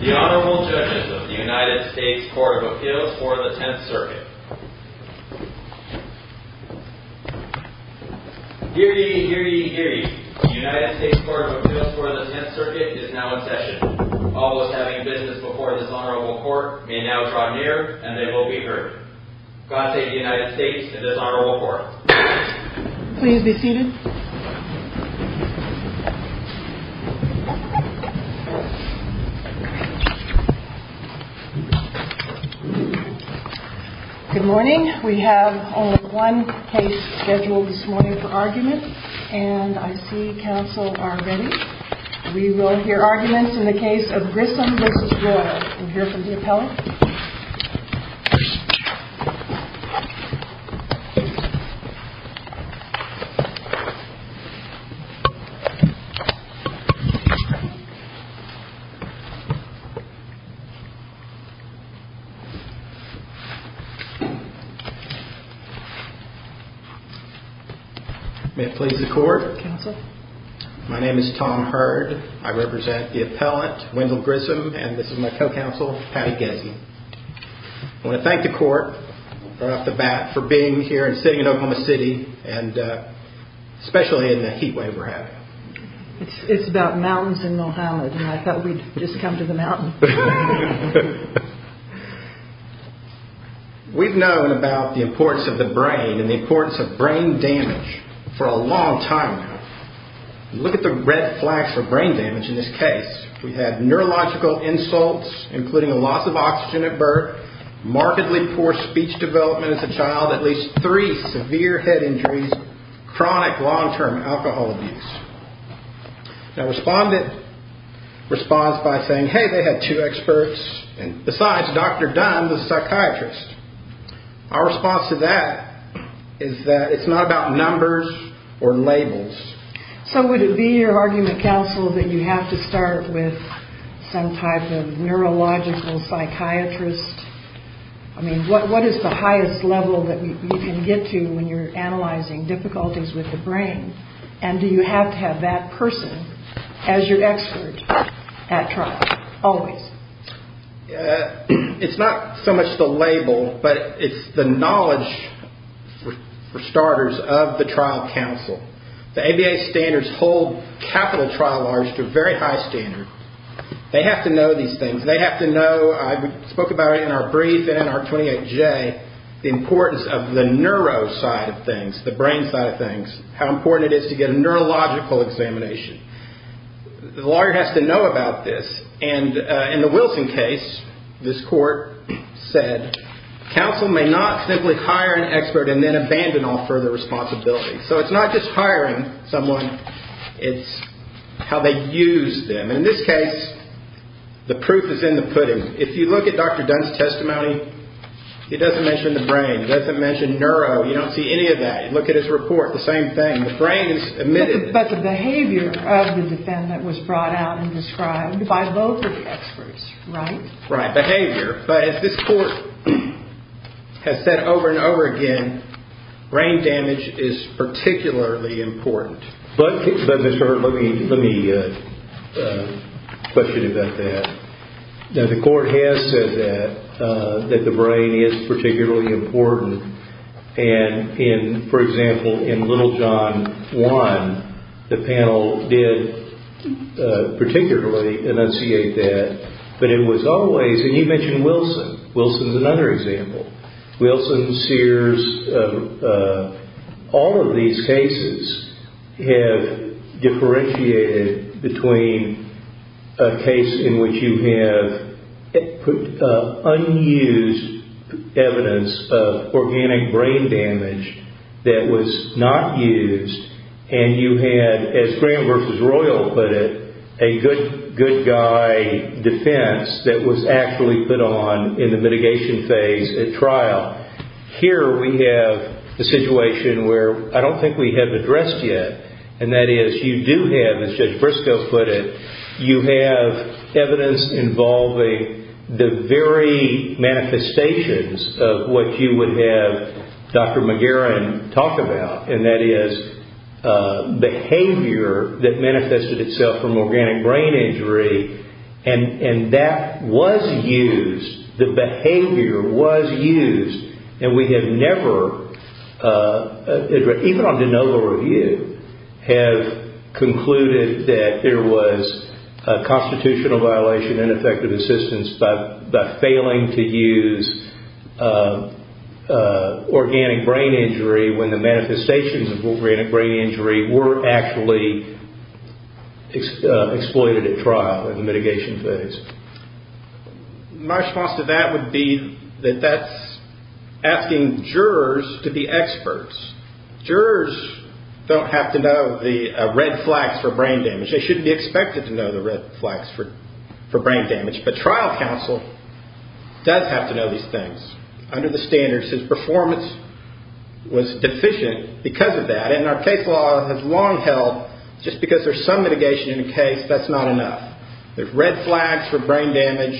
The Honorable Judges of the United States Court of Appeals for the Tenth Circuit. Hear ye, hear ye, hear ye. The United States Court of Appeals for the Tenth Circuit is now in session. All those having business before this Honorable Court may now draw near, and they will be heard. God save the United States and this Honorable Court. Please be seated. Good morning. We have only one case scheduled this morning for argument. And I see counsel are ready. We will hear arguments in the case of Grissom v. Royal. We'll hear from the appellant. May it please the Court. My name is Tom Hurd. I represent the appellant, Wendell Grissom, and this is my co-counsel, Patty Gessie. I want to thank the Court right off the bat for being here and sitting in Oklahoma City, and especially in the heatwave we're having. It's about mountains in Long Island, and I thought we'd just come to the mountain. We've known about the importance of the brain and the importance of brain damage for a long time now. Look at the red flags for brain damage in this case. We had neurological insults, including a loss of oxygen at birth, markedly poor speech development as a child, at least three severe head injuries, chronic long-term alcohol abuse. Now, respondent responds by saying, hey, they had two experts, and besides Dr. Dunn, the psychiatrist. Our response to that is that it's not about numbers or labels. So would it be your argument, counsel, that you have to start with some type of neurological psychiatrist? I mean, what is the highest level that you can get to when you're analyzing difficulties with the brain? And do you have to have that person as your expert at trial, always? It's not so much the label, but it's the knowledge, for starters, of the trial counsel. The ABA standards hold capital trial laws to a very high standard. They have to know these things. They have to know, I spoke about it in our brief and in our 28J, the importance of the neuro side of things, the brain side of things, how important it is to get a neurological examination. The lawyer has to know about this, and in the Wilson case, this court said, counsel may not simply hire an expert and then abandon all further responsibility. So it's not just hiring someone, it's how they use them. In this case, the proof is in the pudding. If you look at Dr. Dunn's testimony, he doesn't mention the brain, he doesn't mention neuro, you don't see any of that. Look at his report, the same thing. The brain is omitted. But the behavior of the defendant was brought out and described by both of the experts, right? Right, behavior. But as this court has said over and over again, brain damage is particularly important. But, Mr. Herbert, let me question you about that. Now, the court has said that, that the brain is particularly important. And in, for example, in Little John 1, the panel did particularly enunciate that. But it was always, and you mentioned Wilson. Wilson is another example. Wilson, Sears, all of these cases have differentiated between a case in which you have unused evidence of organic brain damage that was not used, and you had, as Graham v. Royal put it, a good guy defense that was actually put on in the mitigation phase at trial. Here we have a situation where I don't think we have addressed yet, and that is you do have, as Judge Briscoe put it, you have evidence involving the very manifestations of what you would have Dr. McGarren talk about, and that is behavior that manifested itself from organic brain injury. And that was used. The behavior was used. And we have never, even on de novo review, have concluded that there was a constitutional violation, ineffective assistance, by failing to use organic brain injury when the manifestations of organic brain injury were actually exploited at trial in the mitigation phase. My response to that would be that that's asking jurors to be experts. Jurors don't have to know the red flags for brain damage. They shouldn't be expected to know the red flags for brain damage, but trial counsel does have to know these things under the standards. His performance was deficient because of that, and our case law has long held just because there's some mitigation in a case, that's not enough. There's red flags for brain damage,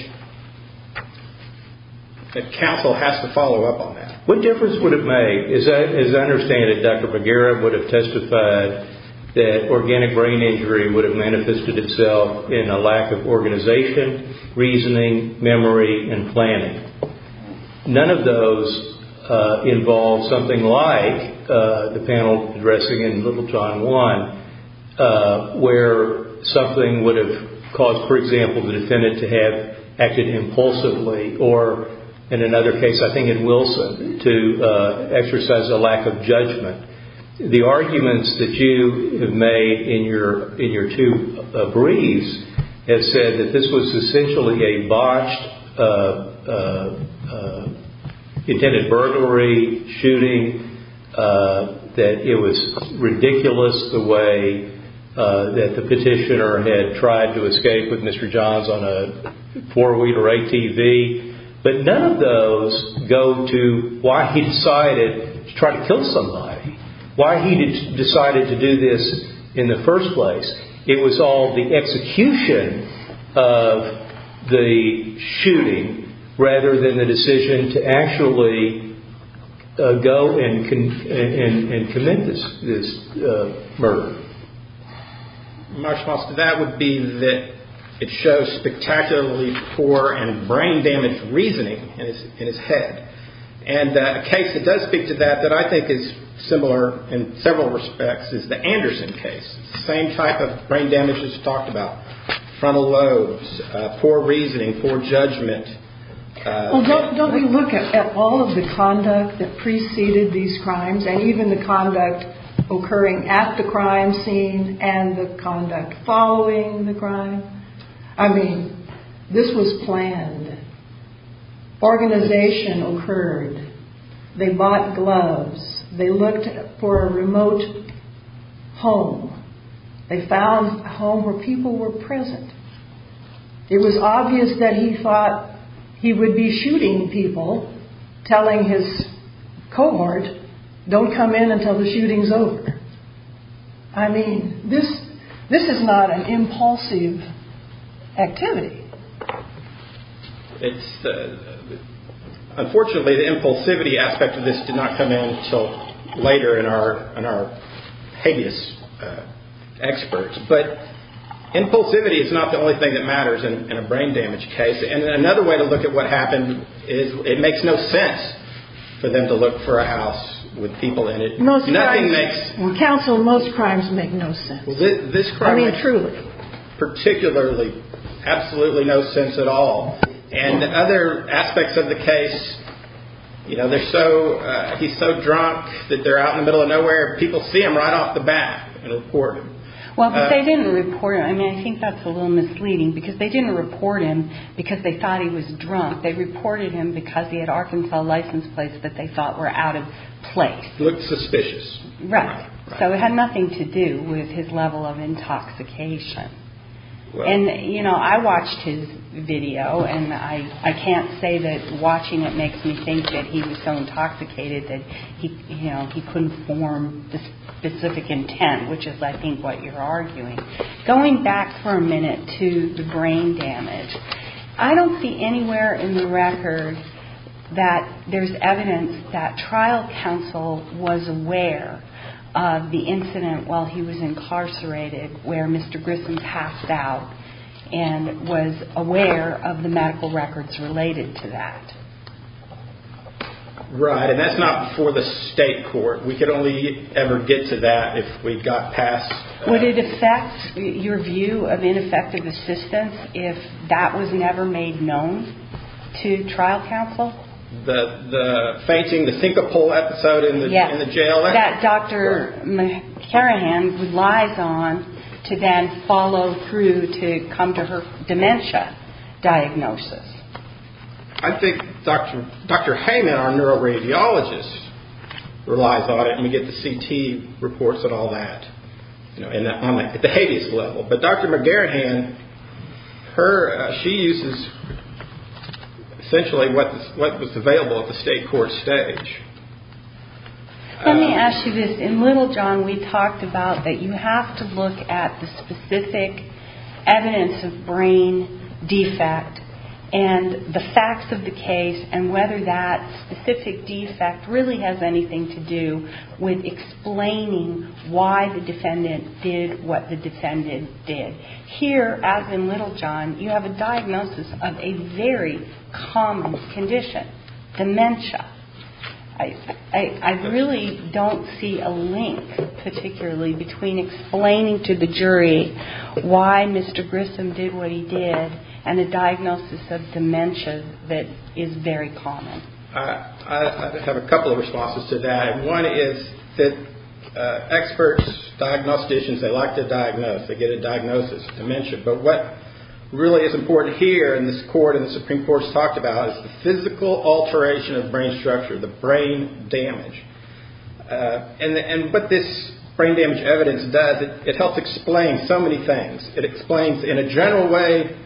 and counsel has to follow up on that. What difference would it make? As I understand it, Dr. McGarren would have testified that organic brain injury would have manifested itself in a lack of organization, reasoning, memory, and planning. None of those involve something like the panel addressing in Littleton 1, where something would have caused, for example, the defendant to have acted impulsively, or in another case, I think in Wilson, to exercise a lack of judgment. The arguments that you have made in your two briefs have said that this was essentially a botched, intended burglary, shooting, that it was ridiculous the way that the petitioner had tried to escape with Mr. Johns on a four-wheeler ATV, but none of those go to why he decided to try to kill somebody, why he decided to do this in the first place. It was all the execution of the shooting, rather than the decision to actually go and commit this murder. My response to that would be that it shows spectacularly poor and brain-damaged reasoning in his head, and a case that does speak to that that I think is similar in several respects is the Anderson case. It's the same type of brain damage that's talked about, frontal lobes, poor reasoning, poor judgment. Well, don't we look at all of the conduct that preceded these crimes, and even the conduct occurring at the crime scene and the conduct following the crime? I mean, this was planned. Organization occurred. They bought gloves. They looked for a remote home. They found a home where people were present. It was obvious that he thought he would be shooting people, telling his cohort, don't come in until the shooting's over. I mean, this is not an impulsive activity. Unfortunately, the impulsivity aspect of this did not come in until later in our heinous experts. But impulsivity is not the only thing that matters in a brain-damaged case. And another way to look at what happened is it makes no sense for them to look for a house with people in it. Nothing makes – Well, counsel, most crimes make no sense. I mean, truly. Particularly, absolutely no sense at all. And other aspects of the case, you know, they're so – he's so drunk that they're out in the middle of nowhere. People see him right off the bat and report him. Well, but they didn't report him. I mean, I think that's a little misleading because they didn't report him because they thought he was drunk. They reported him because he had Arkansas license plates that they thought were out of place. He looked suspicious. Right. So it had nothing to do with his level of intoxication. And, you know, I watched his video, and I can't say that watching it makes me think that he was so intoxicated that he couldn't form a specific intent, which is, I think, what you're arguing. Going back for a minute to the brain damage, I don't see anywhere in the record that there's evidence that trial counsel was aware of the incident while he was incarcerated where Mr. Grissom passed out and was aware of the medical records related to that. Right. And that's not before the state court. We could only ever get to that if we got past – Would it affect your view of ineffective assistance if that was never made known to trial counsel? The fainting, the think-a-pole episode in the jail? Yes. That Dr. McCarrahan relies on to then follow through to come to her dementia diagnosis. I think Dr. Heyman, our neuroradiologist, relies on it, and we get the CT reports and all that at the habeas level. But Dr. McCarrahan, she uses essentially what was available at the state court stage. Let me ask you this. In Littlejohn, we talked about that you have to look at the specific evidence of brain defect and the facts of the case and whether that specific defect really has anything to do with explaining why the defendant did what the defendant did. Here, as in Littlejohn, you have a diagnosis of a very common condition, dementia. I really don't see a link particularly between explaining to the jury why Mr. Grissom did what he did and a diagnosis of dementia that is very common. I have a couple of responses to that. One is that experts, diagnosticians, they like to diagnose. They get a diagnosis of dementia. But what really is important here in this court and the Supreme Court has talked about is the physical alteration of brain structure, the brain damage. And what this brain damage evidence does, it helps explain so many things. It explains in a general way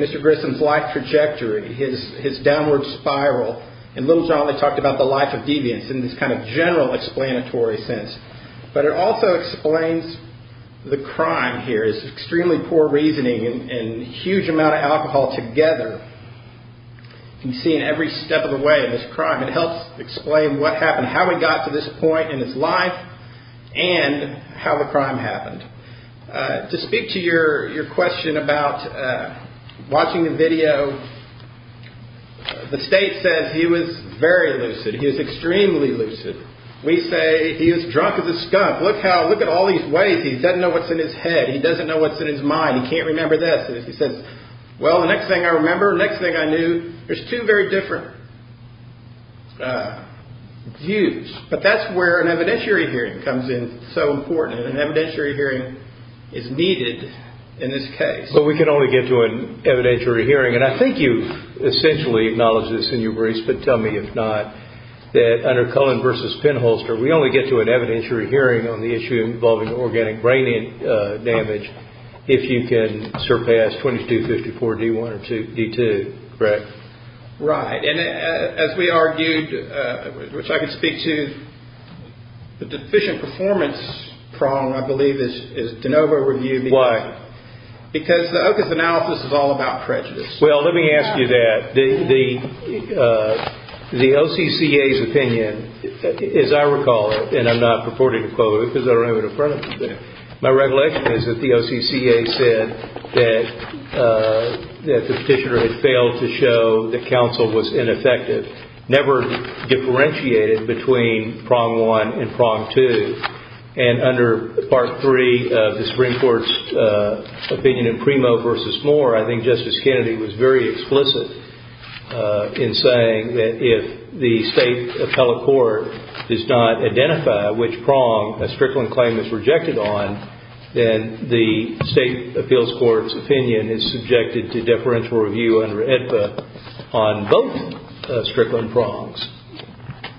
Mr. Grissom's life trajectory, his downward spiral. In Littlejohn, they talked about the life of deviance in this kind of general explanatory sense. But it also explains the crime here. It's extremely poor reasoning and a huge amount of alcohol together. You can see in every step of the way this crime. It helps explain what happened, how he got to this point in his life and how the crime happened. To speak to your question about watching the video, the state says he was very lucid. He was extremely lucid. We say he was drunk as a skunk. Look at all these ways he doesn't know what's in his head. He doesn't know what's in his mind. He can't remember this. And if he says, well, the next thing I remember, the next thing I knew, there's two very different views. But that's where an evidentiary hearing comes in so important. An evidentiary hearing is needed in this case. But we can only get to an evidentiary hearing. And I think you essentially acknowledged this in your briefs, but tell me if not, that under Cullen versus Penholster, we only get to an evidentiary hearing on the issue involving organic brain damage if you can surpass 2254 D1 or D2, correct? Right. And as we argued, which I can speak to, the deficient performance problem, I believe, is de novo reviewed. Why? Because the OCAS analysis is all about prejudice. Well, let me ask you that. The OCCA's opinion, as I recall it, and I'm not purporting to quote it because I don't have it in front of me there, my regulation is that the OCCA said that the Petitioner had failed to show that counsel was ineffective, never differentiated between prong one and prong two. And under part three of the Supreme Court's opinion in Primo versus Moore, I think Justice Kennedy was very explicit in saying that if the state appellate court does not identify which prong a Strickland claim is rejected on, then the state appeals court's opinion is subjected to deferential review under AEDPA on both Strickland prongs.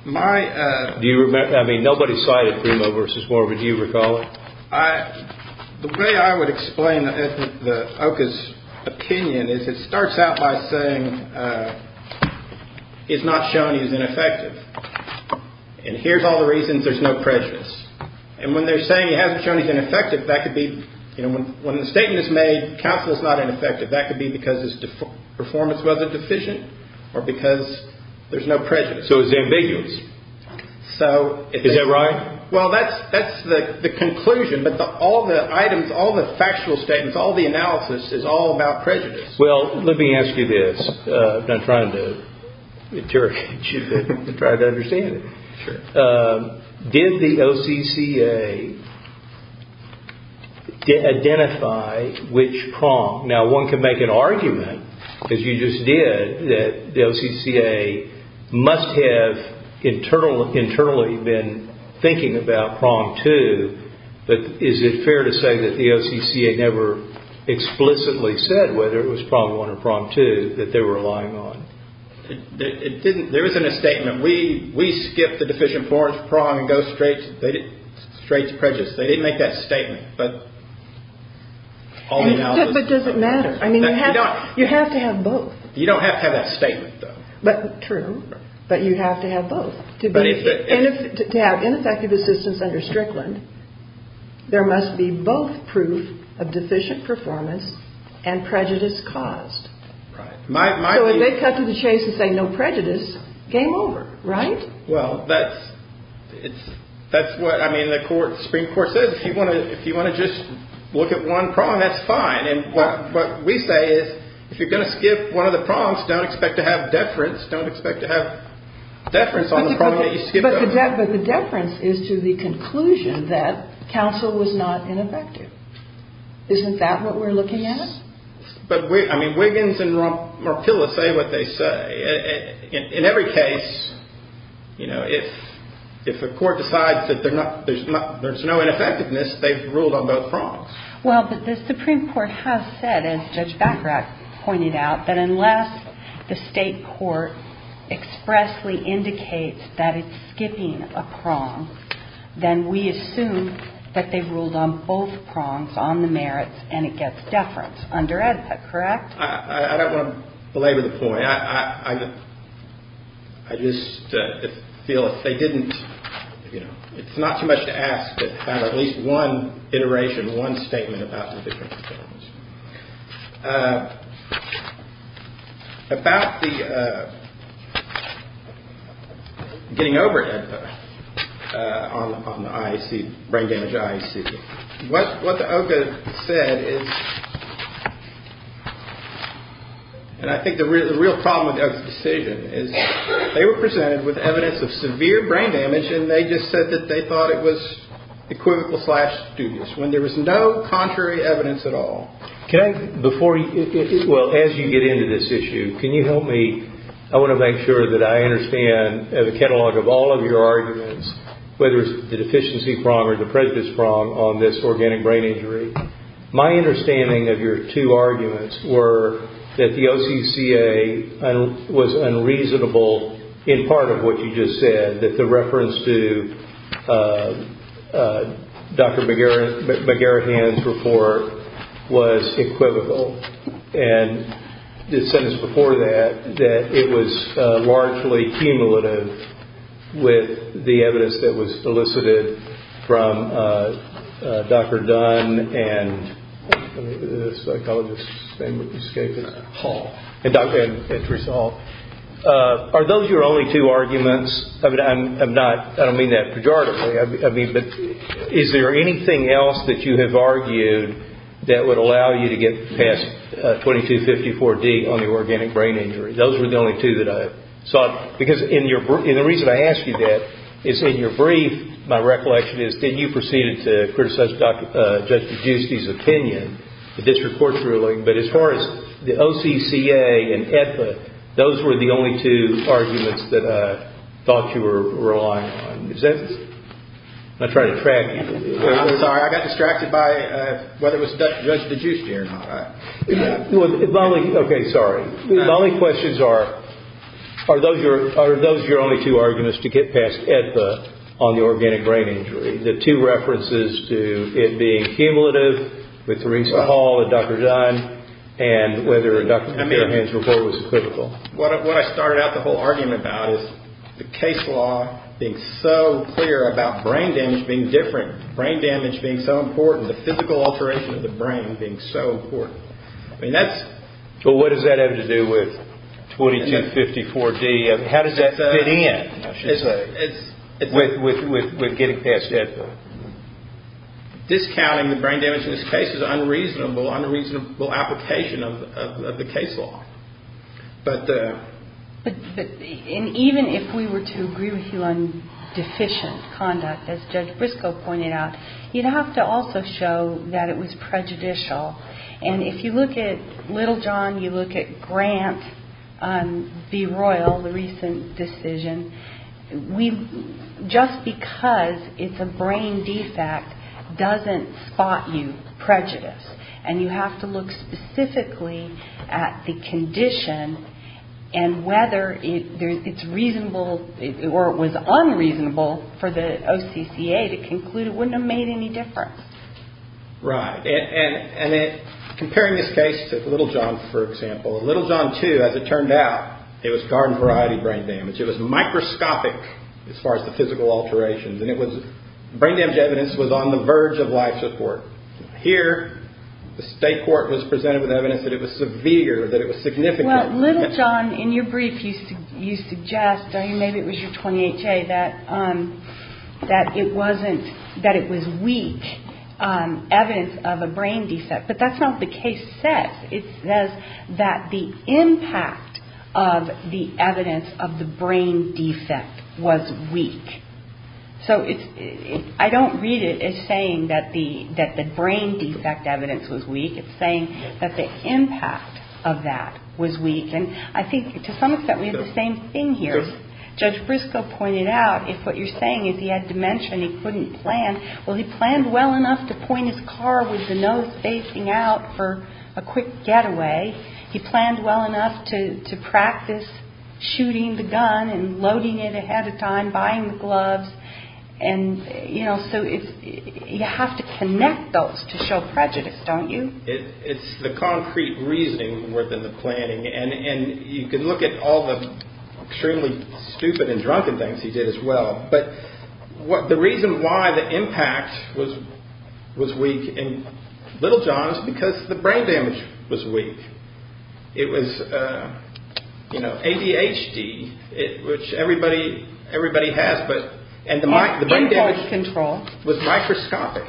Do you remember? I mean, nobody cited Primo versus Moore, but do you recall it? The way I would explain the OCCA's opinion is it starts out by saying he's not shown he's ineffective. And here's all the reasons there's no prejudice. And when they're saying he hasn't shown he's ineffective, that could be, you know, when the statement is made, counsel is not ineffective. That could be because his performance wasn't deficient or because there's no prejudice. So it's ambiguous. So is that right? Well, that's the conclusion. But all the items, all the factual statements, all the analysis is all about prejudice. Well, let me ask you this. I'm trying to interrogate you and try to understand it. Sure. Did the OCCA identify which prong? Now, one can make an argument, as you just did, that the OCCA must have internally been thinking about prong two. But is it fair to say that the OCCA never explicitly said whether it was prong one or prong two that they were relying on? It didn't. There isn't a statement. When we skip the deficient prong and go straight to prejudice, they didn't make that statement. But all the analysis. But does it matter? I mean, you have to have both. You don't have to have that statement, though. True. But you have to have both. To have ineffective assistance under Strickland, there must be both proof of deficient performance and prejudice caused. Right. So if they cut to the chase and say no prejudice, game over, right? Well, that's what, I mean, the Supreme Court says if you want to just look at one prong, that's fine. And what we say is if you're going to skip one of the prongs, don't expect to have deference. Don't expect to have deference on the prong that you skip. But the deference is to the conclusion that counsel was not ineffective. Isn't that what we're looking at? Yes. But, I mean, Wiggins and Marpilla say what they say. In every case, you know, if a court decides that there's no ineffectiveness, they've ruled on both prongs. Well, but the Supreme Court has said, as Judge Bacrat pointed out, that unless the state court expressly indicates that it's skipping a prong, then we assume that they've ruled on both prongs, on the merits, and it gets deference under AEDPA, correct? I don't want to belabor the point. I just feel if they didn't, you know, it's not too much to ask, but have at least one iteration, one statement about deficient performance. About the getting overhead on the IAC, brain damage IAC, what the OCA said is, and I think the real problem with the OCA's decision is they were presented with evidence of severe brain damage, and they just said that they thought it was equivocal slash dubious. When there was no contrary evidence at all. Can I, before, well, as you get into this issue, can you help me, I want to make sure that I understand the catalog of all of your arguments, whether it's the deficiency prong or the prejudice prong on this organic brain injury. My understanding of your two arguments were that the OCCA was unreasonable in part of what you just said, that the reference to Dr. McGarrett-Hann's report was equivocal, and the sentence before that, that it was largely cumulative with the evidence that was elicited from Dr. Dunn and Dr. Halt. Are those your only two arguments? I don't mean that pejoratively, but is there anything else that you have argued that would allow you to get past 2254D on the organic brain injury? Those were the only two that I saw, because the reason I ask you that is in your brief, my recollection is that you proceeded to criticize Judge DeGiusti's opinion, the district court's ruling, but as far as the OCCA and AEDPA, those were the only two arguments that I thought you were relying on. Is that, I'm trying to track you. I'm sorry, I got distracted by whether it was Judge DeGiusti or not. Okay, sorry. My only questions are, are those your only two arguments to get past AEDPA on the organic brain injury, the two references to it being cumulative with Theresa Hall and Dr. Dunn, and whether Dr. McGarrett-Hann's report was equivocal? What I started out the whole argument about is the case law being so clear about brain damage being different, brain damage being so important, the physical alteration of the brain being so important. I mean, that's- But what does that have to do with 2254D? How does that fit in with getting past AEDPA? Discounting the brain damage in this case is an unreasonable application of the case law. And even if we were to agree with you on deficient conduct, as Judge Briscoe pointed out, you'd have to also show that it was prejudicial. And if you look at Little John, you look at Grant on B-Royal, the recent decision, just because it's a brain defect doesn't spot you prejudice. And you have to look specifically at the condition and whether it's reasonable or it was unreasonable for the OCCA to conclude it wouldn't have made any difference. Right. And comparing this case to Little John, for example, Little John 2, as it turned out, it was garden variety brain damage. It was microscopic as far as the physical alterations. And brain damage evidence was on the verge of life support. Here, the state court was presented with evidence that it was severe, that it was significant. Well, Little John, in your brief, you suggest, maybe it was your 28-J, that it was weak evidence of a brain defect. But that's not what the case says. It says that the impact of the evidence of the brain defect was weak. So I don't read it as saying that the brain defect evidence was weak. It's saying that the impact of that was weak. And I think, to some extent, we have the same thing here. Judge Briscoe pointed out, if what you're saying is he had dementia and he couldn't plan, well, he planned well enough to point his car with the nose facing out for a quick getaway. He planned well enough to practice shooting the gun and loading it ahead of time, buying the gloves. And, you know, so you have to connect those to show prejudice, don't you? It's the concrete reasoning more than the planning. And you can look at all the extremely stupid and drunken things he did as well. But the reason why the impact was weak in Little John is because the brain damage was weak. It was, you know, ADHD, which everybody has. And the brain damage was microscopic.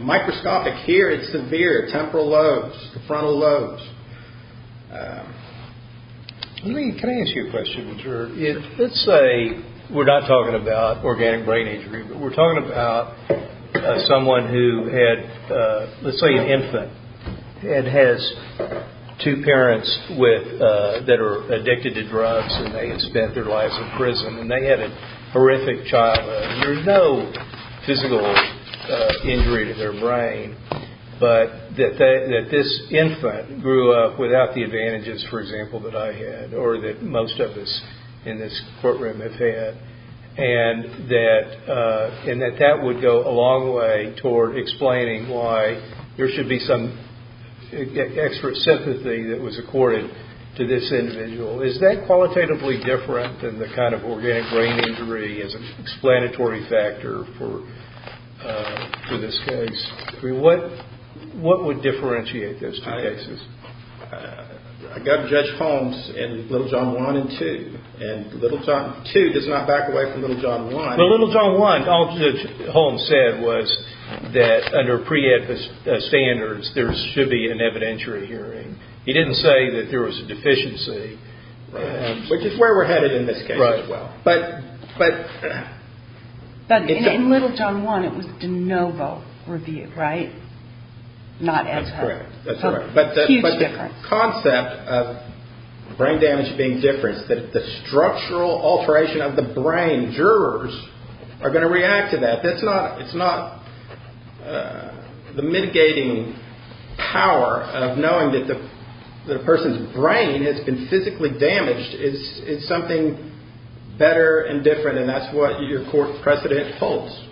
Microscopic. Here it's severe. Temporal lobes. The frontal lobes. Can I ask you a question? Let's say we're not talking about organic brain injury, but we're talking about someone who had, let's say an infant, and has two parents that are addicted to drugs and they had spent their lives in prison. And they had a horrific childhood. There's no physical injury to their brain, but that this infant grew up without the advantages, for example, that I had, or that most of us in this courtroom have had, and that that would go a long way toward explaining why there should be some extra sympathy that was accorded to this individual. Is that qualitatively different than the kind of organic brain injury as an explanatory factor for this case? I mean, what would differentiate those two cases? I got Judge Holmes in Little John I and II, and II does not back away from Little John I. In Little John I, all Judge Holmes said was that under pre-ed standards, there should be an evidentiary hearing. He didn't say that there was a deficiency. Which is where we're headed in this case. But in Little John I, it was de novo review, right? That's correct. Huge difference. But the concept of brain damage being different, the structural alteration of the brain, jurors are going to react to that. It's not the mitigating power of knowing that the person's brain has been physically damaged. It's something better and different. And that's what your court precedent holds.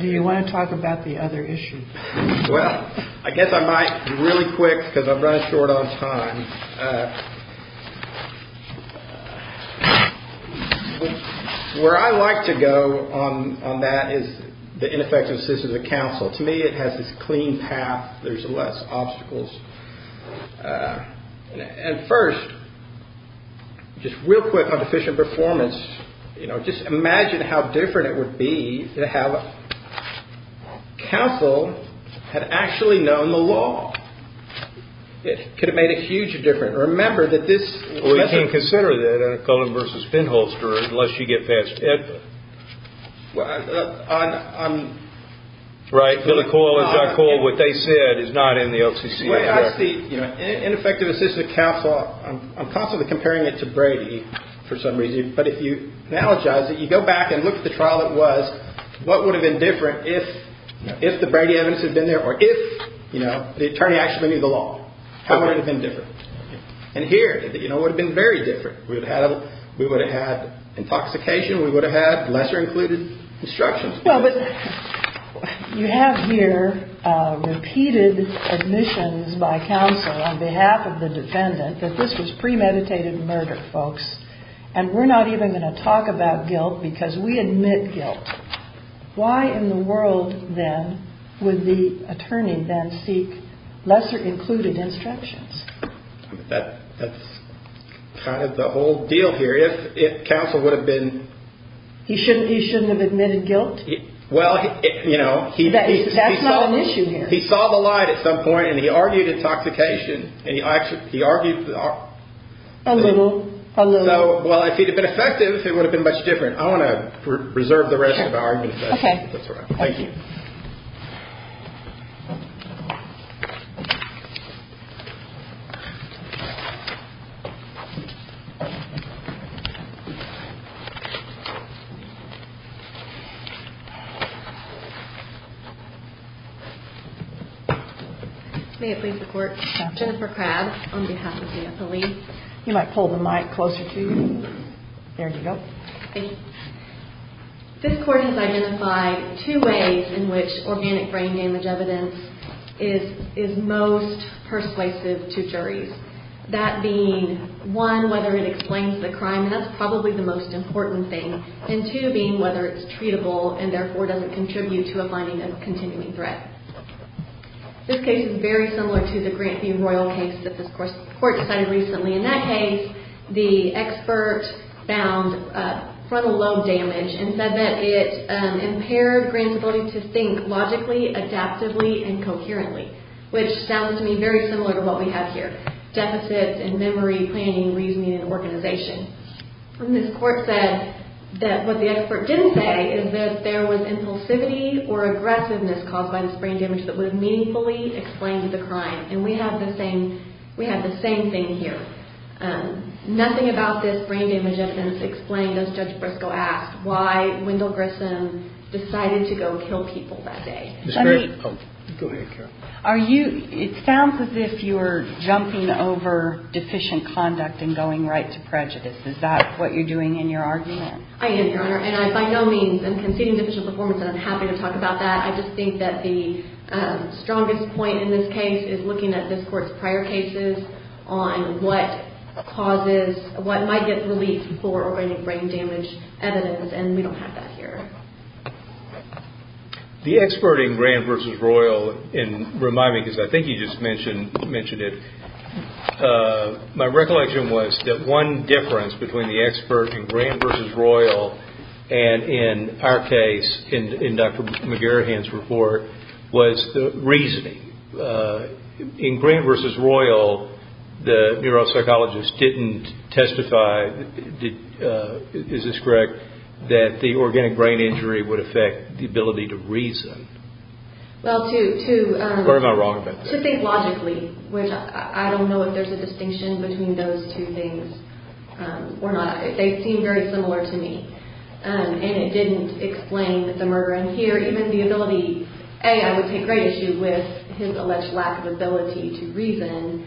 Do you want to talk about the other issue? Well, I guess I might really quick because I'm running short on time. Where I like to go on that is the ineffectiveness of the counsel. To me, it has this clean path. There's less obstacles. And first, just real quick on deficient performance. You know, just imagine how different it would be to have counsel had actually known the law. It could have made a huge difference. Remember that this. We can consider that a Cullen versus Finholster unless you get past it. Right. What they said is not in the OCC. I see ineffectiveness of the counsel. I'm constantly comparing it to Brady for some reason. But if you analogize it, you go back and look at the trial that was. What would have been different if the Brady evidence had been there or if the attorney actually knew the law? How would it have been different? And here, you know, it would have been very different. We would have had intoxication. We would have had lesser included instructions. Well, but you have here repeated admissions by counsel on behalf of the defendant that this was premeditated murder, folks. And we're not even going to talk about guilt because we admit guilt. Why in the world, then, would the attorney then seek lesser included instructions? That's kind of the whole deal here. If counsel would have been. He shouldn't he shouldn't have admitted guilt. Well, you know, he that's not an issue. He saw the light at some point and he argued intoxication. And he actually he argued a little. So, well, if he'd have been effective, it would have been much different. I want to preserve the rest of our. OK. Thank you. May it please the court. Jennifer Crabb on behalf of the appellee. You might pull the mic closer to you. There you go. Thank you. This court has identified two ways in which organic brain damage evidence is is most persuasive to juries. That being one, whether it explains the crime. That's probably the most important thing. And to being whether it's treatable and therefore doesn't contribute to a finding of continuing threat. This case is very similar to the grant the royal case that this court court decided recently. In that case, the expert found frontal lobe damage and said that it impaired grantability to think logically, adaptively and coherently. Which sounds to me very similar to what we have here. Deficit and memory, planning, reasoning and organization. And this court said that what the expert didn't say is that there was impulsivity or aggressiveness caused by this brain damage that would have meaningfully explained the crime. And we have the same we have the same thing here. Nothing about this brain damage evidence explained as Judge Briscoe asked why Wendell Grissom decided to go kill people that day. Go ahead. Are you it sounds as if you were jumping over deficient conduct and going right to prejudice. Is that what you're doing in your argument? I am, Your Honor. And I by no means am conceding deficient performance. And I'm happy to talk about that. I just think that the strongest point in this case is looking at this court's prior cases on what causes what might get released for organic brain damage evidence. And we don't have that here. The expert in Grand vs. Royal and remind me because I think you just mentioned mentioned it. My recollection was that one difference between the expert in Grand vs. Royal and in our case in Dr. McGarrahan's report was the reasoning in Grand vs. Royal. The neuropsychologist didn't testify. Is this correct that the organic brain injury would affect the ability to reason? Well, to think logically, which I don't know if there's a distinction between those two things or not. They seem very similar to me. And it didn't explain the murder. And here, even the ability, A, I would take great issue with his alleged lack of ability to reason.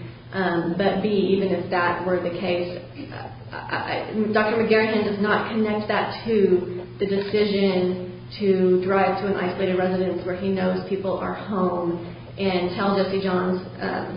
But, B, even if that were the case, Dr. McGarrahan does not connect that to the decision to drive to an isolated residence where he knows people are home and tell Jesse Johns.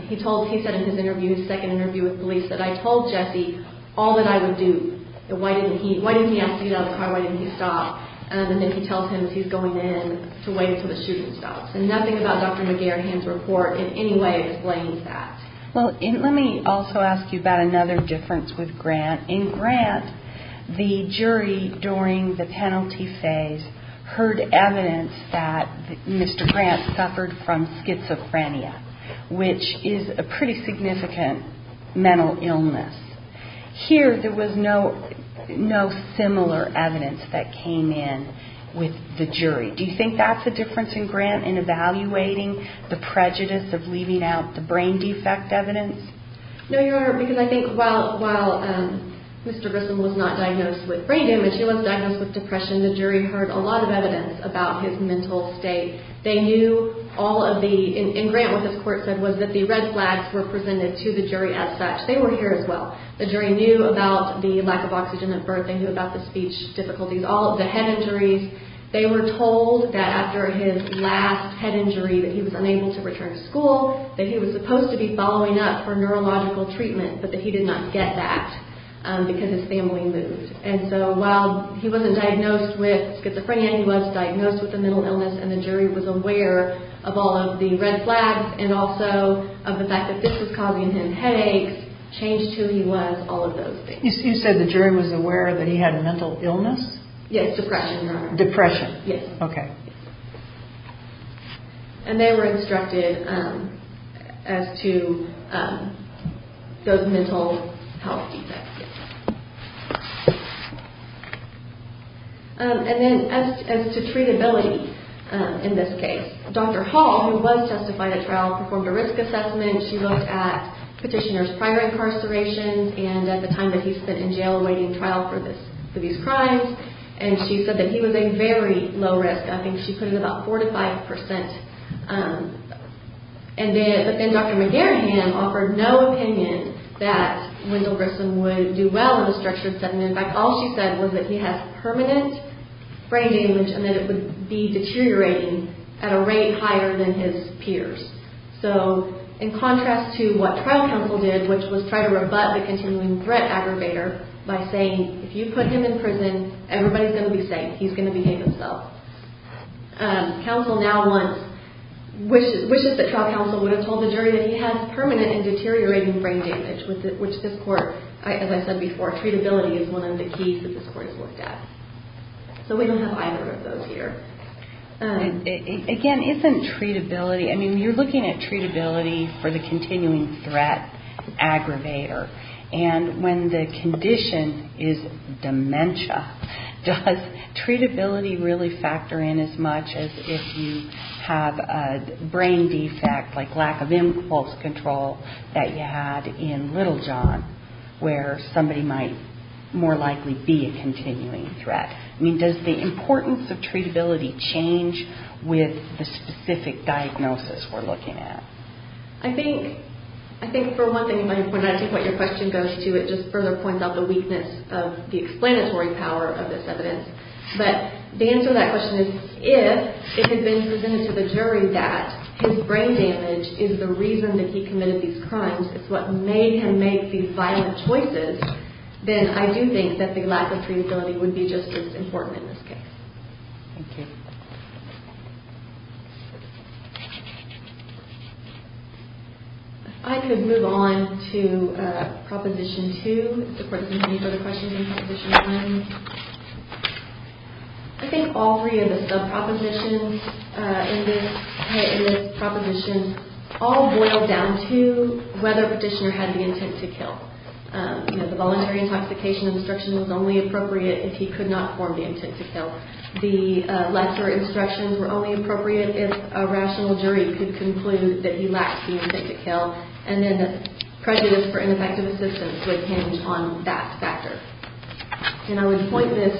He said in his second interview with police that, I told Jesse all that I would do. Why didn't he ask to get out of the car? Why didn't he stop? And then he tells him he's going in to wait until the shooting stops. And nothing about Dr. McGarrahan's report in any way explains that. Well, let me also ask you about another difference with Grant. In Grant, the jury during the penalty phase heard evidence that Mr. Grant suffered from schizophrenia, which is a pretty significant mental illness. Here, there was no similar evidence that came in with the jury. Do you think that's a difference in Grant in evaluating the prejudice of leaving out the brain defect evidence? No, Your Honor, because I think while Mr. Grissom was not diagnosed with brain damage, he was diagnosed with depression. The jury heard a lot of evidence about his mental state. They knew all of the ñ in Grant, what the court said was that the red flags were presented to the jury as such. They were here as well. The jury knew about the lack of oxygen at birth. They knew about the speech difficulties, all of the head injuries. They were told that after his last head injury that he was unable to return to school, that he was supposed to be following up for neurological treatment, but that he did not get that because his family moved. And so while he wasn't diagnosed with schizophrenia, he was diagnosed with a mental illness, and the jury was aware of all of the red flags and also of the fact that this was causing him headaches, changed who he was, all of those things. You said the jury was aware that he had a mental illness? Yes, depression, Your Honor. Depression. Yes. Okay. And they were instructed as to those mental health defects. And then as to treatability in this case, Dr. Hall, who was testified at trial, performed a risk assessment. She looked at petitioners prior to incarceration and at the time that he spent in jail awaiting trial for these crimes, and she said that he was a very low risk. I think she put it at about 4 to 5 percent. But then Dr. McGarrihan offered no opinion that Wendell Grissom would do well in a structured setting. In fact, all she said was that he has permanent brain damage and that it would be deteriorating at a rate higher than his peers. So in contrast to what trial counsel did, which was try to rebut the continuing threat aggravator by saying, if you put him in prison, everybody's going to be safe. He's going to behave himself. Counsel now wishes that trial counsel would have told the jury that he had permanent and deteriorating brain damage, which this court, as I said before, treatability is one of the keys that this court has looked at. So we don't have either of those here. Again, isn't treatability – I mean, you're looking at treatability for the continuing threat aggravator. And when the condition is dementia, does treatability really factor in as much as if you have a brain defect like lack of impulse control that you had in little John, where somebody might more likely be a continuing threat? I mean, does the importance of treatability change with the specific diagnosis we're looking at? I think, for one thing, what your question goes to, it just further points out the weakness of the explanatory power of this evidence. But the answer to that question is, if it had been presented to the jury that his brain damage is the reason that he committed these crimes, it's what made him make these violent choices, then I do think that the lack of treatability would be just as important in this case. Thank you. If I could move on to Proposition 2. Does the court have any further questions on Proposition 1? I think all three of the sub-propositions in this proposition all boil down to whether Petitioner had the intent to kill. The voluntary intoxication instruction was only appropriate if he could not form the intent to kill. The lesser instructions were only appropriate if a rational jury could conclude that he lacked the intent to kill. And then the prejudice for ineffective assistance would hinge on that factor. And I would point this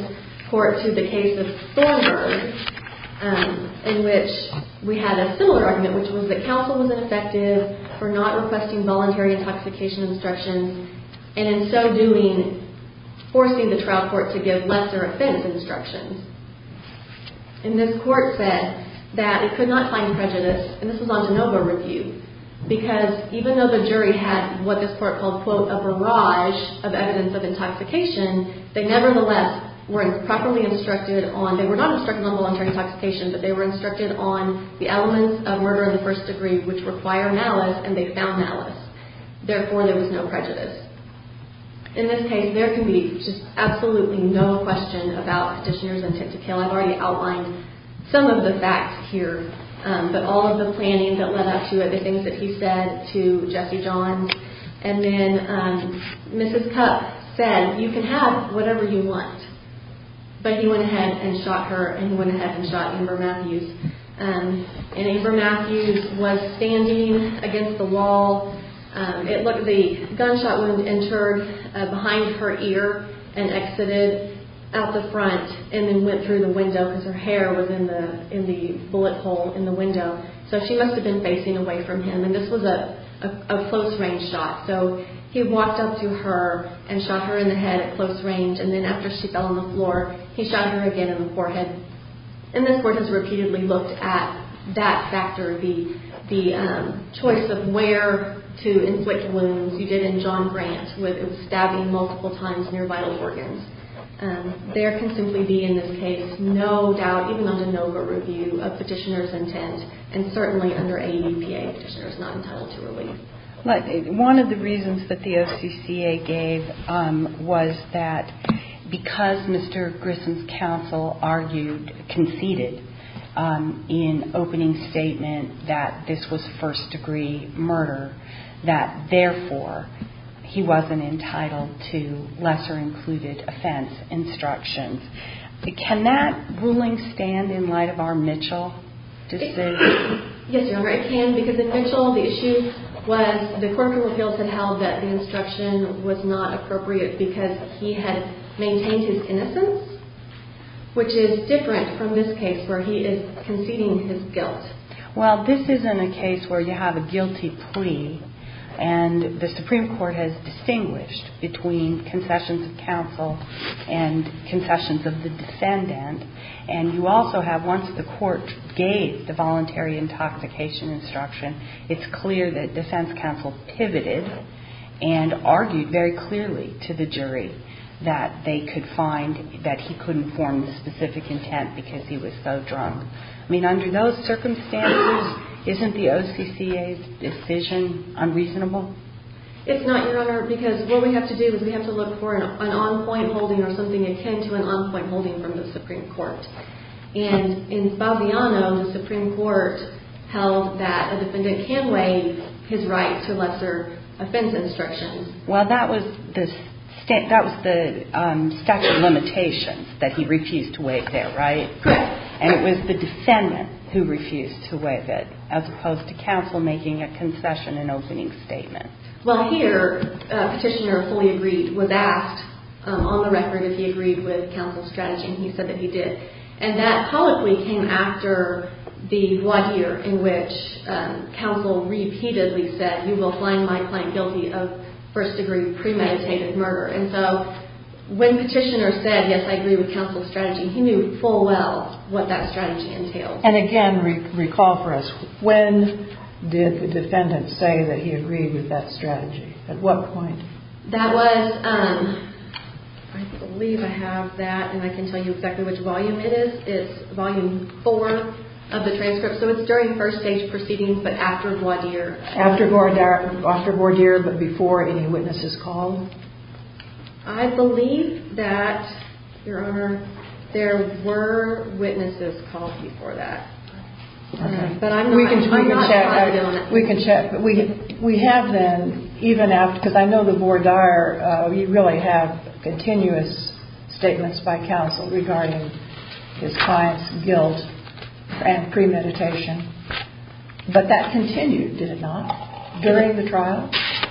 court to the case of Thornburg, in which we had a similar argument, which was that counsel was ineffective for not requesting voluntary intoxication instructions, and in so doing, forcing the trial court to give lesser offense instructions. And this court said that it could not find prejudice, and this was on de novo review, because even though the jury had what this court called, quote, a barrage of evidence of intoxication, they nevertheless weren't properly instructed on, they were not instructed on voluntary intoxication, but they were instructed on the elements of murder in the first degree, which require malice, and they found malice. Therefore, there was no prejudice. In this case, there can be just absolutely no question about Petitioner's intent to kill. I've already outlined some of the facts here, but all of the planning that led up to it, the things that he said to Jesse Johns, and then Mrs. Cupp said, you can have whatever you want. But he went ahead and shot her, and he went ahead and shot Amber Matthews, and Amber Matthews was standing against the wall. The gunshot wound entered behind her ear and exited out the front and then went through the window, because her hair was in the bullet hole in the window, so she must have been facing away from him, and this was a close-range shot, so he walked up to her and shot her in the head at close range, and then after she fell on the floor, he shot her again in the forehead. And this Court has repeatedly looked at that factor, the choice of where to inflict wounds. You did in John Grant with stabbing multiple times near vital organs. There can simply be, in this case, no doubt, even under NOGA review, of Petitioner's intent, and certainly under AEPA, Petitioner's not entitled to relief. One of the reasons that the OCCA gave was that because Mr. Grissom's counsel argued, conceded in opening statement that this was first-degree murder, that therefore he wasn't entitled to lesser-included offense instructions. Can that ruling stand in light of our Mitchell decision? Yes, Your Honor, it can, because in Mitchell, the issue was the Court of Appeals had held that the instruction was not appropriate because he had maintained his innocence, which is different from this case where he is conceding his guilt. Well, this isn't a case where you have a guilty plea, and the Supreme Court has distinguished between concessions of counsel and concessions of the defendant, and you also have, once the Court gave the voluntary intoxication instruction, it's clear that defense counsel pivoted and argued very clearly to the jury that they could find that he couldn't form the specific intent because he was so drunk. I mean, under those circumstances, isn't the OCCA's decision unreasonable? It's not, Your Honor, because what we have to do is we have to look for an on-point holding or something akin to an on-point holding from the Supreme Court. And in Baviano, the Supreme Court held that a defendant can waive his right to lesser-offense instructions. Well, that was the statute of limitations, that he refused to waive it, right? Correct. And it was the defendant who refused to waive it, as opposed to counsel making a concession and opening statement. Well, here, Petitioner fully agreed with that on the record that he agreed with counsel's strategy, and he said that he did. And that probably came after the voir dire in which counsel repeatedly said, you will find my client guilty of first-degree premeditated murder. And so when Petitioner said, yes, I agree with counsel's strategy, he knew full well what that strategy entailed. And again, recall for us, when did the defendant say that he agreed with that strategy? At what point? That was, I believe I have that, and I can tell you exactly which volume it is. It's volume four of the transcript. So it's during first-stage proceedings, but after voir dire. After voir dire, but before any witnesses called? I believe that, Your Honor, there were witnesses called before that. Okay. But I'm not sure I don't. We can check. We can check. We have then, even after, because I know the voir dire, you really have continuous statements by counsel regarding his client's guilt and premeditation. But that continued, did it not, during the trial?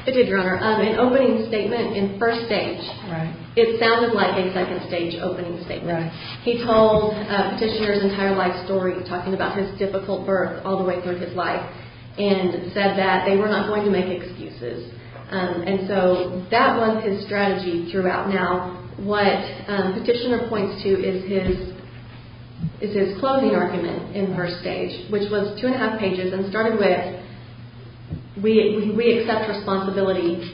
It did, Your Honor. An opening statement in first stage. Right. It sounded like a second-stage opening statement. Right. He told Petitioner's entire life story, talking about his difficult birth all the way through his life, and said that they were not going to make excuses. And so that was his strategy throughout. Now, what Petitioner points to is his closing argument in first stage, which was two-and-a-half pages, and started with, we accept responsibility,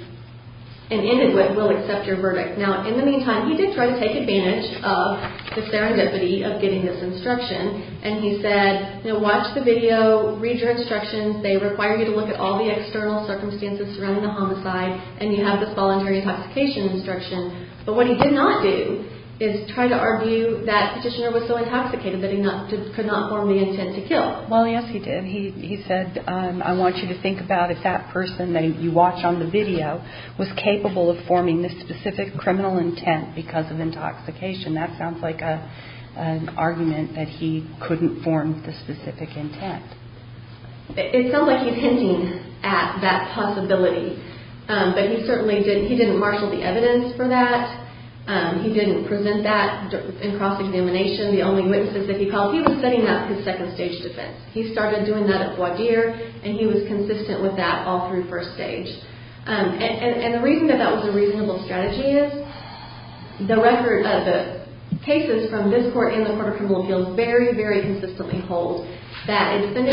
and ended with, we'll accept your verdict. Now, in the meantime, he did try to take advantage of the serendipity of getting this instruction, and he said, you know, watch the video, read your instructions. They require you to look at all the external circumstances surrounding the homicide, and you have this voluntary intoxication instruction. But what he did not do is try to argue that Petitioner was so intoxicated that he could not form the intent to kill. Well, yes, he did. He said, I want you to think about if that person that you watch on the video was capable of forming this specific criminal intent because of intoxication. That sounds like an argument that he couldn't form the specific intent. It sounds like he's hinting at that possibility. But he certainly didn't marshal the evidence for that. He didn't present that in cross-examination. The only witnesses that he called, he was setting up his second-stage defense. He started doing that at voir dire, and he was consistent with that all through first stage. And the reason that that was a reasonable strategy is the record of the cases from this court and the Court of Criminal Appeals very, very consistently hold that So we have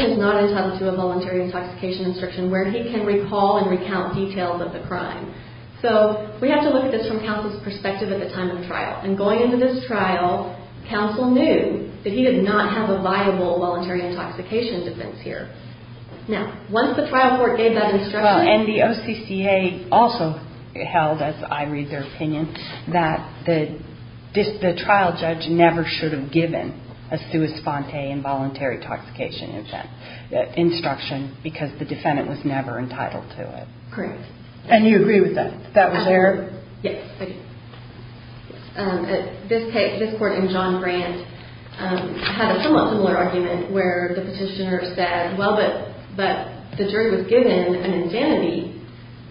to look at this from counsel's perspective at the time of the trial. And going into this trial, counsel knew that he did not have a viable voluntary intoxication defense here. Now, once the trial court gave that instruction... Well, and the OCCA also held, as I read their opinion, that the trial judge never should have given a sua sponte involuntary intoxication instruction because the defendant was never entitled to it. Correct. And you agree with that? That was their... Yes, I do. This case, this court and John Grant had a somewhat similar argument where the petitioner said, well, but the jury was given an indemnity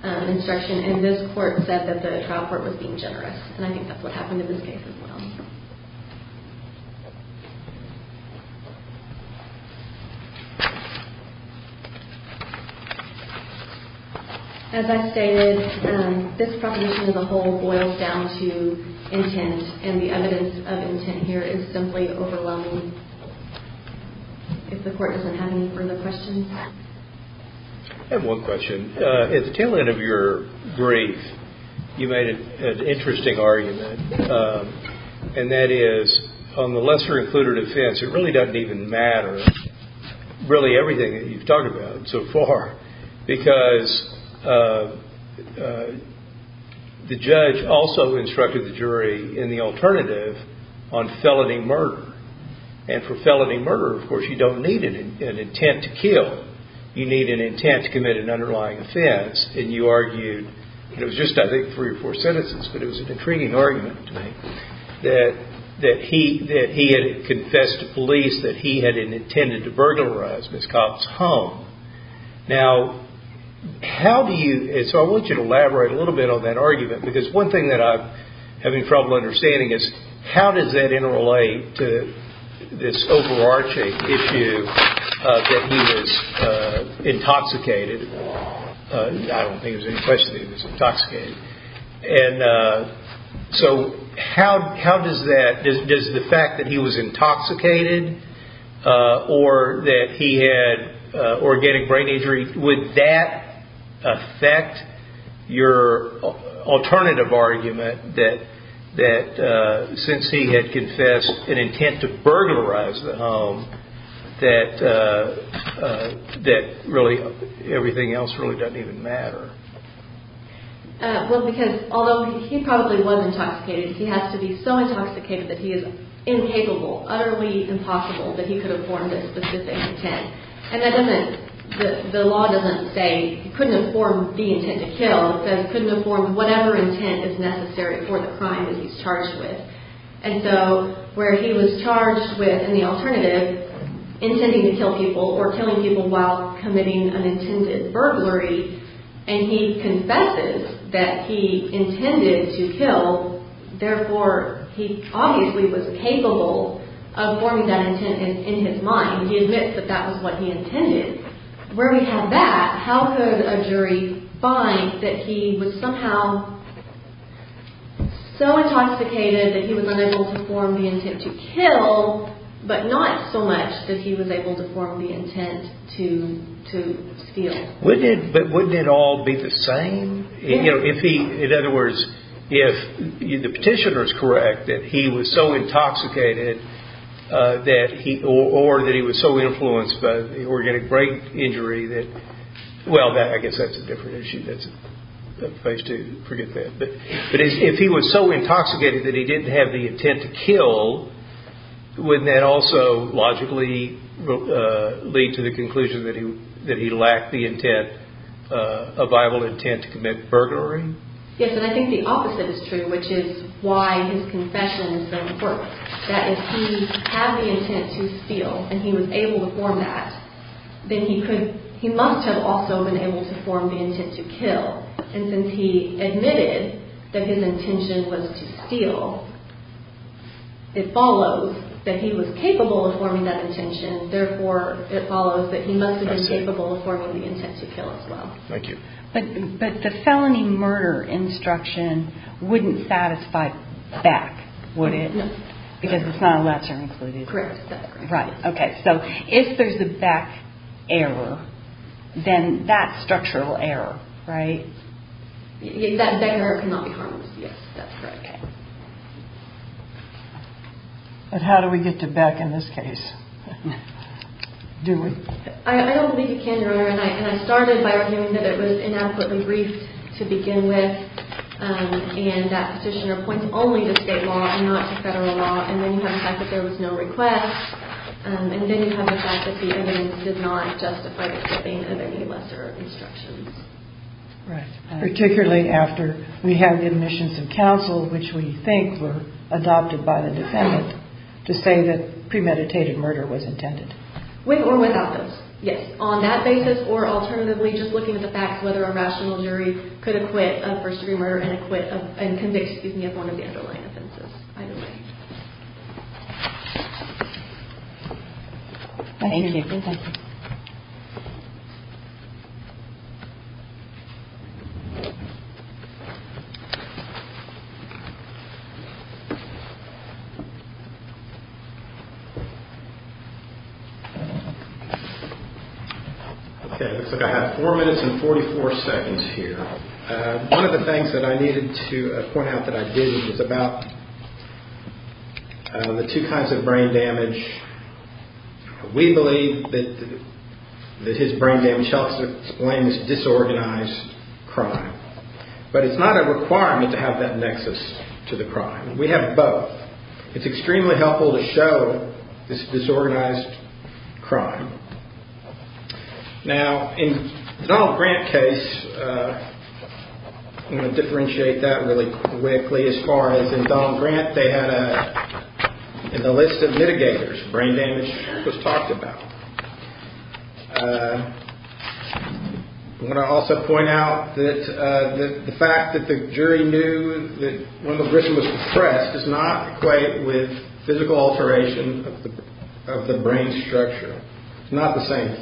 instruction and this court said that the trial court was being generous. And I think that's what happened in this case as well. As I stated, this proposition as a whole boils down to intent and the evidence of intent here is simply overwhelming. If the court doesn't have any further questions. I have one question. At the tail end of your brief, you made an interesting argument, and that is on the lesser-included offense, it really doesn't even matter. Really everything that you've talked about so far, because the judge also instructed the jury in the alternative on felony murder. And for felony murder, of course, you don't need an intent to kill. You need an intent to commit an underlying offense. And you argued, and it was just, I think, three or four sentences, but it was an intriguing argument to make, that he had confessed to police that he had intended to burglarize Ms. Cobb's home. Now, how do you, and so I want you to elaborate a little bit on that argument, because one thing that I'm having trouble understanding is how does that interrelate to this overarching issue that he was intoxicated. I don't think it was any question that he was intoxicated. And so how does that, does the fact that he was intoxicated or that he had organic brain injury, would that affect your alternative argument that since he had confessed an intent to burglarize the home, that really everything else really doesn't even matter? Well, because although he probably was intoxicated, he has to be so intoxicated that he is incapable, utterly impossible, that he could have formed a specific intent. And that doesn't, the law doesn't say he couldn't have formed the intent to kill. It says he couldn't have formed whatever intent is necessary for the crime that he's charged with. And so where he was charged with, in the alternative, intending to kill people or killing people while committing an intended burglary, and he confesses that he intended to kill, therefore he obviously was capable of forming that intent in his mind. He admits that that was what he intended. Where we have that, how could a jury find that he was somehow so intoxicated that he was unable to form the intent to kill, but not so much that he was able to form the intent to steal? But wouldn't it all be the same? In other words, if the petitioner is correct that he was so intoxicated or that he was so influenced by the organic brain injury that, well, I guess that's a different issue, that's phase two, forget that. But if he was so intoxicated that he didn't have the intent to kill, wouldn't that also logically lead to the conclusion that he lacked the intent, a viable intent to commit burglary? Yes, and I think the opposite is true, which is why his confession is so important, that if he had the intent to steal and he was able to form that, then he must have also been able to form the intent to kill. And since he admitted that his intention was to steal, it follows that he was capable of forming that intention, therefore it follows that he must have been capable of forming the intent to kill as well. Thank you. But the felony murder instruction wouldn't satisfy Beck, would it? No. Because it's not a lesser included. Correct. Right, okay. So if there's a Beck error, then that's structural error, right? That Beck error cannot be harmless, yes, that's correct. But how do we get to Beck in this case? Do we? I don't think you can, Your Honor. And I started by arguing that it was inadequately briefed to begin with, and that petitioner points only to state law and not to federal law, and then you have the fact that there was no request, and then you have the fact that the evidence did not justify the giving of any lesser instructions. Right. Particularly after we have admissions of counsel, which we think were adopted by the defendant to say that premeditated murder was intended. With or without those, yes. On that basis or alternatively just looking at the facts, whether a rational jury could acquit of first-degree murder and can they excuse me of one of the underlying offenses either way. Okay, it looks like I have 4 minutes and 44 seconds here. One of the things that I needed to point out that I didn't was about the two kinds of brain damage. We believe that his brain damage helps explain this disorganized crime. But it's not a requirement to have that nexus to the crime. We have both. It's extremely helpful to show this disorganized crime. Now, in Donald Grant's case, I'm going to differentiate that really quickly. As far as in Donald Grant, they had a list of mitigators. Brain damage was talked about. I'm going to also point out that the fact that the jury knew that Rundle Griffin was depressed does not equate with physical alteration of the brain structure. It's not the same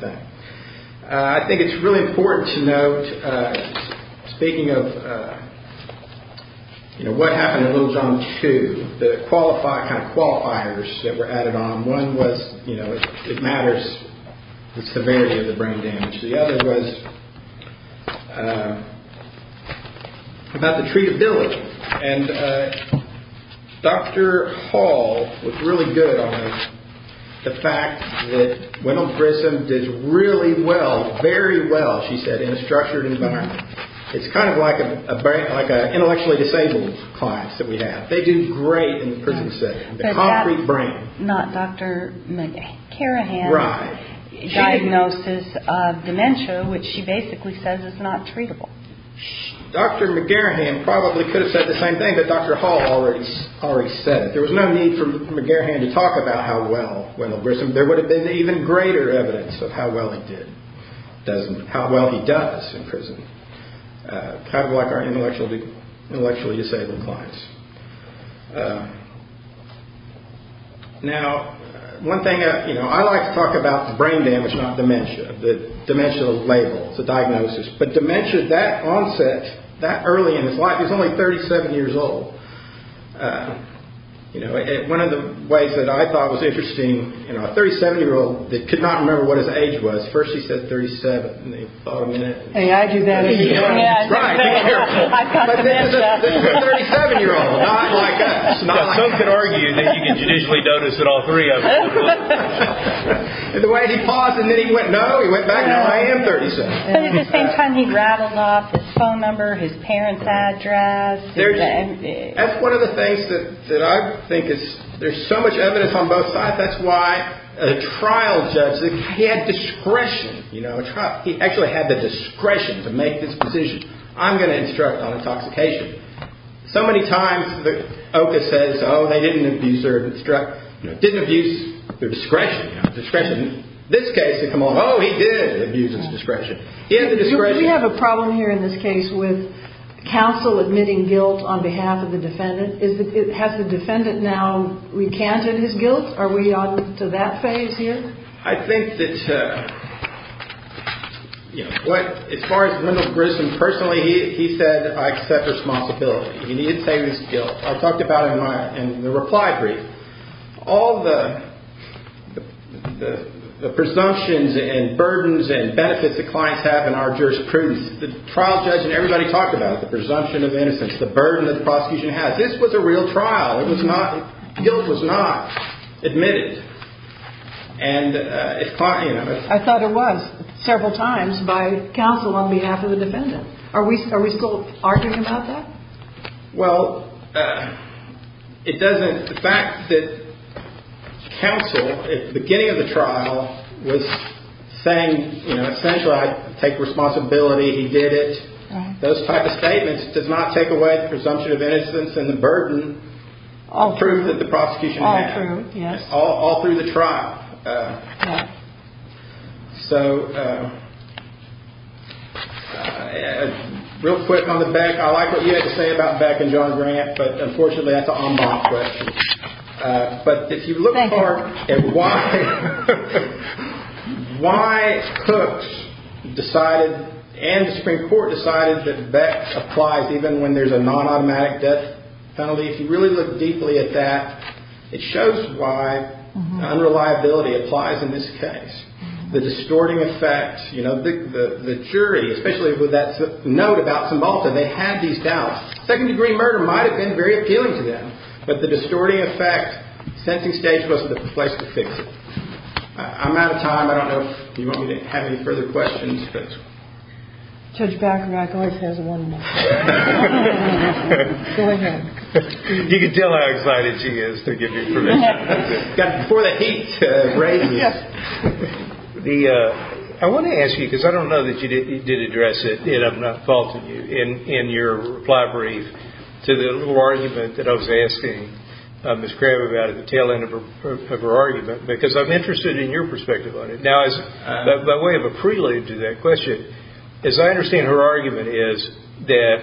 thing. I think it's really important to note, speaking of what happened in Little John 2, the kind of qualifiers that were added on. One was it matters the severity of the brain damage. The other was about the treatability. Dr. Hall was really good on the fact that Rundle Griffin did really well, very well, she said, in a structured environment. It's kind of like an intellectually disabled client that we have. They do great in the prison setting, the concrete brain. But that's not Dr. McGarrahan's diagnosis of dementia, which she basically says is not treatable. Dr. McGarrahan probably could have said the same thing, but Dr. Hall already said it. There was no need for McGarrahan to talk about how well Rundle Griffin did. There would have been even greater evidence of how well he did, how well he does in prison. Kind of like our intellectually disabled clients. I like to talk about brain damage, not dementia, the dementia label, the diagnosis. But dementia, that onset, that early in his life, he was only 37 years old. One of the ways that I thought was interesting, a 37-year-old that could not remember what his age was, first he said 37, and they thought him in it. And I do that, too. Right, be careful. But then it's a 37-year-old, not like us. Some can argue that you can judicially notice that all three of us look the same. The way he paused and then he went, no, he went back, no, I am 37. But at the same time, he rattled off his phone number, his parents' address. That's one of the things that I think is, there's so much evidence on both sides. That's why a trial judge, he had discretion. He actually had the discretion to make this decision. I'm going to instruct on intoxication. So many times the OCA says, oh, they didn't abuse their discretion. In this case, they come on, oh, he did abuse his discretion. He had the discretion. Do we have a problem here in this case with counsel admitting guilt on behalf of the defendant? Has the defendant now recanted his guilt? Are we on to that phase here? I think that as far as Lyndall Grissom personally, he said, I accept responsibility. He didn't say his guilt. I talked about it in the reply brief. All the presumptions and burdens and benefits that clients have in our jurisprudence, the trial judge and everybody talked about it, the presumption of innocence, the burden that the prosecution had. This was a real trial. Guilt was not admitted. I thought it was several times by counsel on behalf of the defendant. Are we still arguing about that? Well, it doesn't – the fact that counsel at the beginning of the trial was saying, you know, essentially I take responsibility, he did it, those type of statements does not take away the presumption of innocence and the burden of proof that the prosecution had. All through, yes. All through the trial. So real quick on the Beck. I like what you had to say about Beck and John Grant, but unfortunately that's an en bas question. But if you look more at why Cooks decided, and the Supreme Court decided, that Beck applies even when there's a non-automatic death penalty, if you really look deeply at that, it shows why unreliability applies in this case. The distorting effect, you know, the jury, especially with that note about Simbolton, they had these doubts. Second-degree murder might have been very appealing to them, but the distorting effect, the sensing stage wasn't the place to fix it. I'm out of time. I don't know if you want me to have any further questions. Judge Beck always has one more. Go ahead. You can tell how excited she is to give you permission. Before the heat rages, I want to ask you, because I don't know that you did address it, and I'm not faulting you, in your reply brief to the little argument that I was asking Miss Crabb about at the tail end of her argument, because I'm interested in your perspective on it. Now, by way of a prelude to that question, as I understand her argument is that,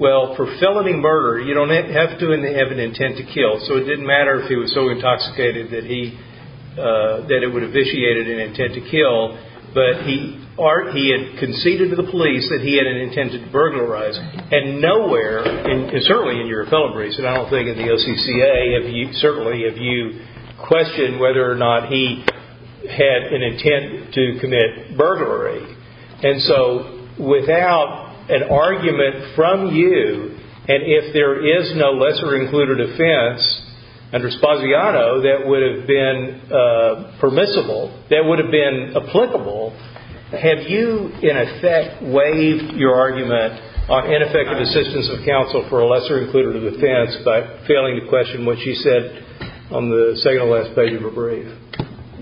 well, for felony murder, you don't have to have an intent to kill, so it didn't matter if he was so intoxicated that it would have vitiated an intent to kill, but he had conceded to the police that he had an intent to burglarize, and nowhere, and certainly in your fellow briefs, and I don't think in the OCCA, certainly, have you questioned whether or not he had an intent to commit burglary. And so without an argument from you, and if there is no lesser-included offense under spaziato, that would have been permissible, that would have been applicable. Have you, in effect, waived your argument on ineffective assistance of counsel for a lesser-included offense by failing to question what she said on the second-to-last page of her brief?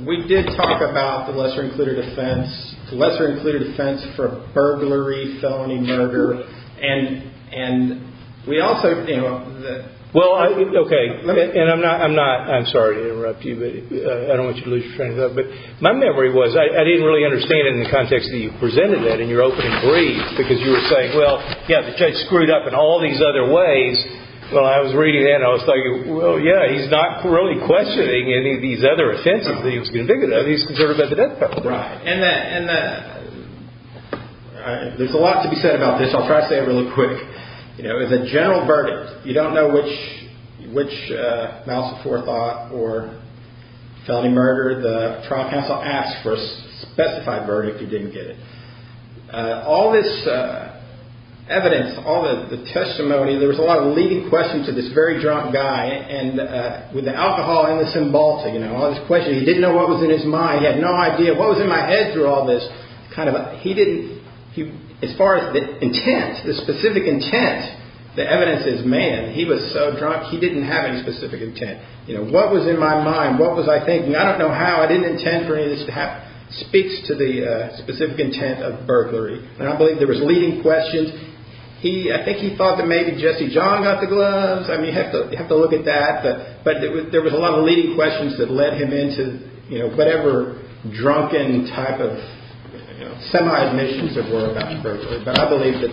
We did talk about the lesser-included offense, the lesser-included offense for burglary, felony murder, and we also, you know, Well, okay, and I'm not, I'm sorry to interrupt you, but I don't want you to lose your train of thought, but my memory was, I didn't really understand it in the context that you presented that in your opening brief, because you were saying, well, yeah, the judge screwed up in all these other ways. Well, I was reading it, and I was thinking, well, yeah, he's not really questioning any of these other offenses that he was convicted of. He's concerned about the death penalty. Right, and that, and that, there's a lot to be said about this. I'll try to say it really quick. You know, as a general verdict, you don't know which, which mouse of forethought or felony murder. The trial counsel asked for a specified verdict and didn't get it. All this evidence, all the testimony, there was a lot of leading questions to this very drunk guy, and with the alcohol and the cymbalta, you know, all these questions. He didn't know what was in his mind. He had no idea what was in my head through all this kind of, he didn't, as far as the intent, the specific intent, the evidence is, man, he was so drunk, he didn't have any specific intent. You know, what was in my mind? What was I thinking? I don't know how. I didn't intend for any of this to happen. It speaks to the specific intent of burglary, and I believe there was leading questions. He, I think he thought that maybe Jesse John got the gloves. I mean, you have to look at that, but there was a lot of leading questions that led him into, you know, whatever drunken type of, you know, semi-admissions there were about burglary, but I believe that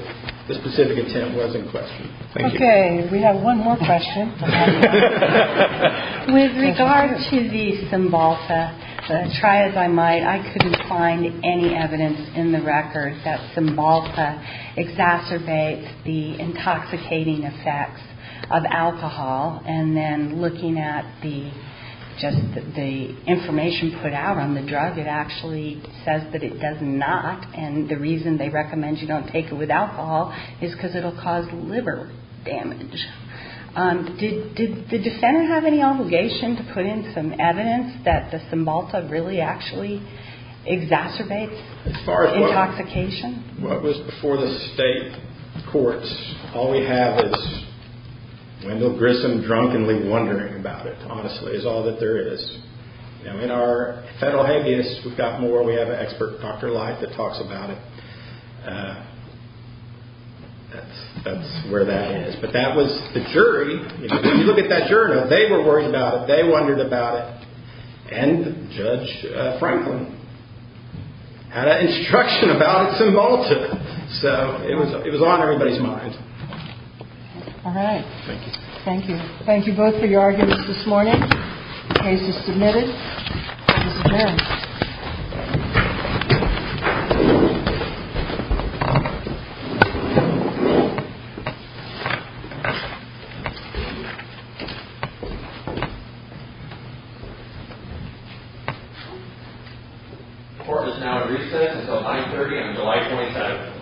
the specific intent was in question. Thank you. Okay, we have one more question. With regard to the Cymbalta, try as I might, I couldn't find any evidence in the record that Cymbalta exacerbates the intoxicating effects of alcohol, and then looking at the, just the information put out on the drug, it actually says that it does not, and the reason they recommend you don't take it with alcohol is because it will cause liver damage. Did the defender have any obligation to put in some evidence that the Cymbalta really actually exacerbates intoxication? As far as what was before the state courts, all we have is Wendell Grissom drunkenly wondering about it, honestly, is all that there is. You know, in our federal habeas, we've got more. We have an expert, Dr. Light, that talks about it. That's where that is. But that was the jury. If you look at that journal, they were worried about it. They wondered about it. And Judge Franklin had an instruction about Cymbalta. So it was on everybody's minds. All right. Thank you. Thank you. Thank you both for your arguments this morning. The case is submitted. Thank you. Thank you. Court is now at recess until 930 on July 27th.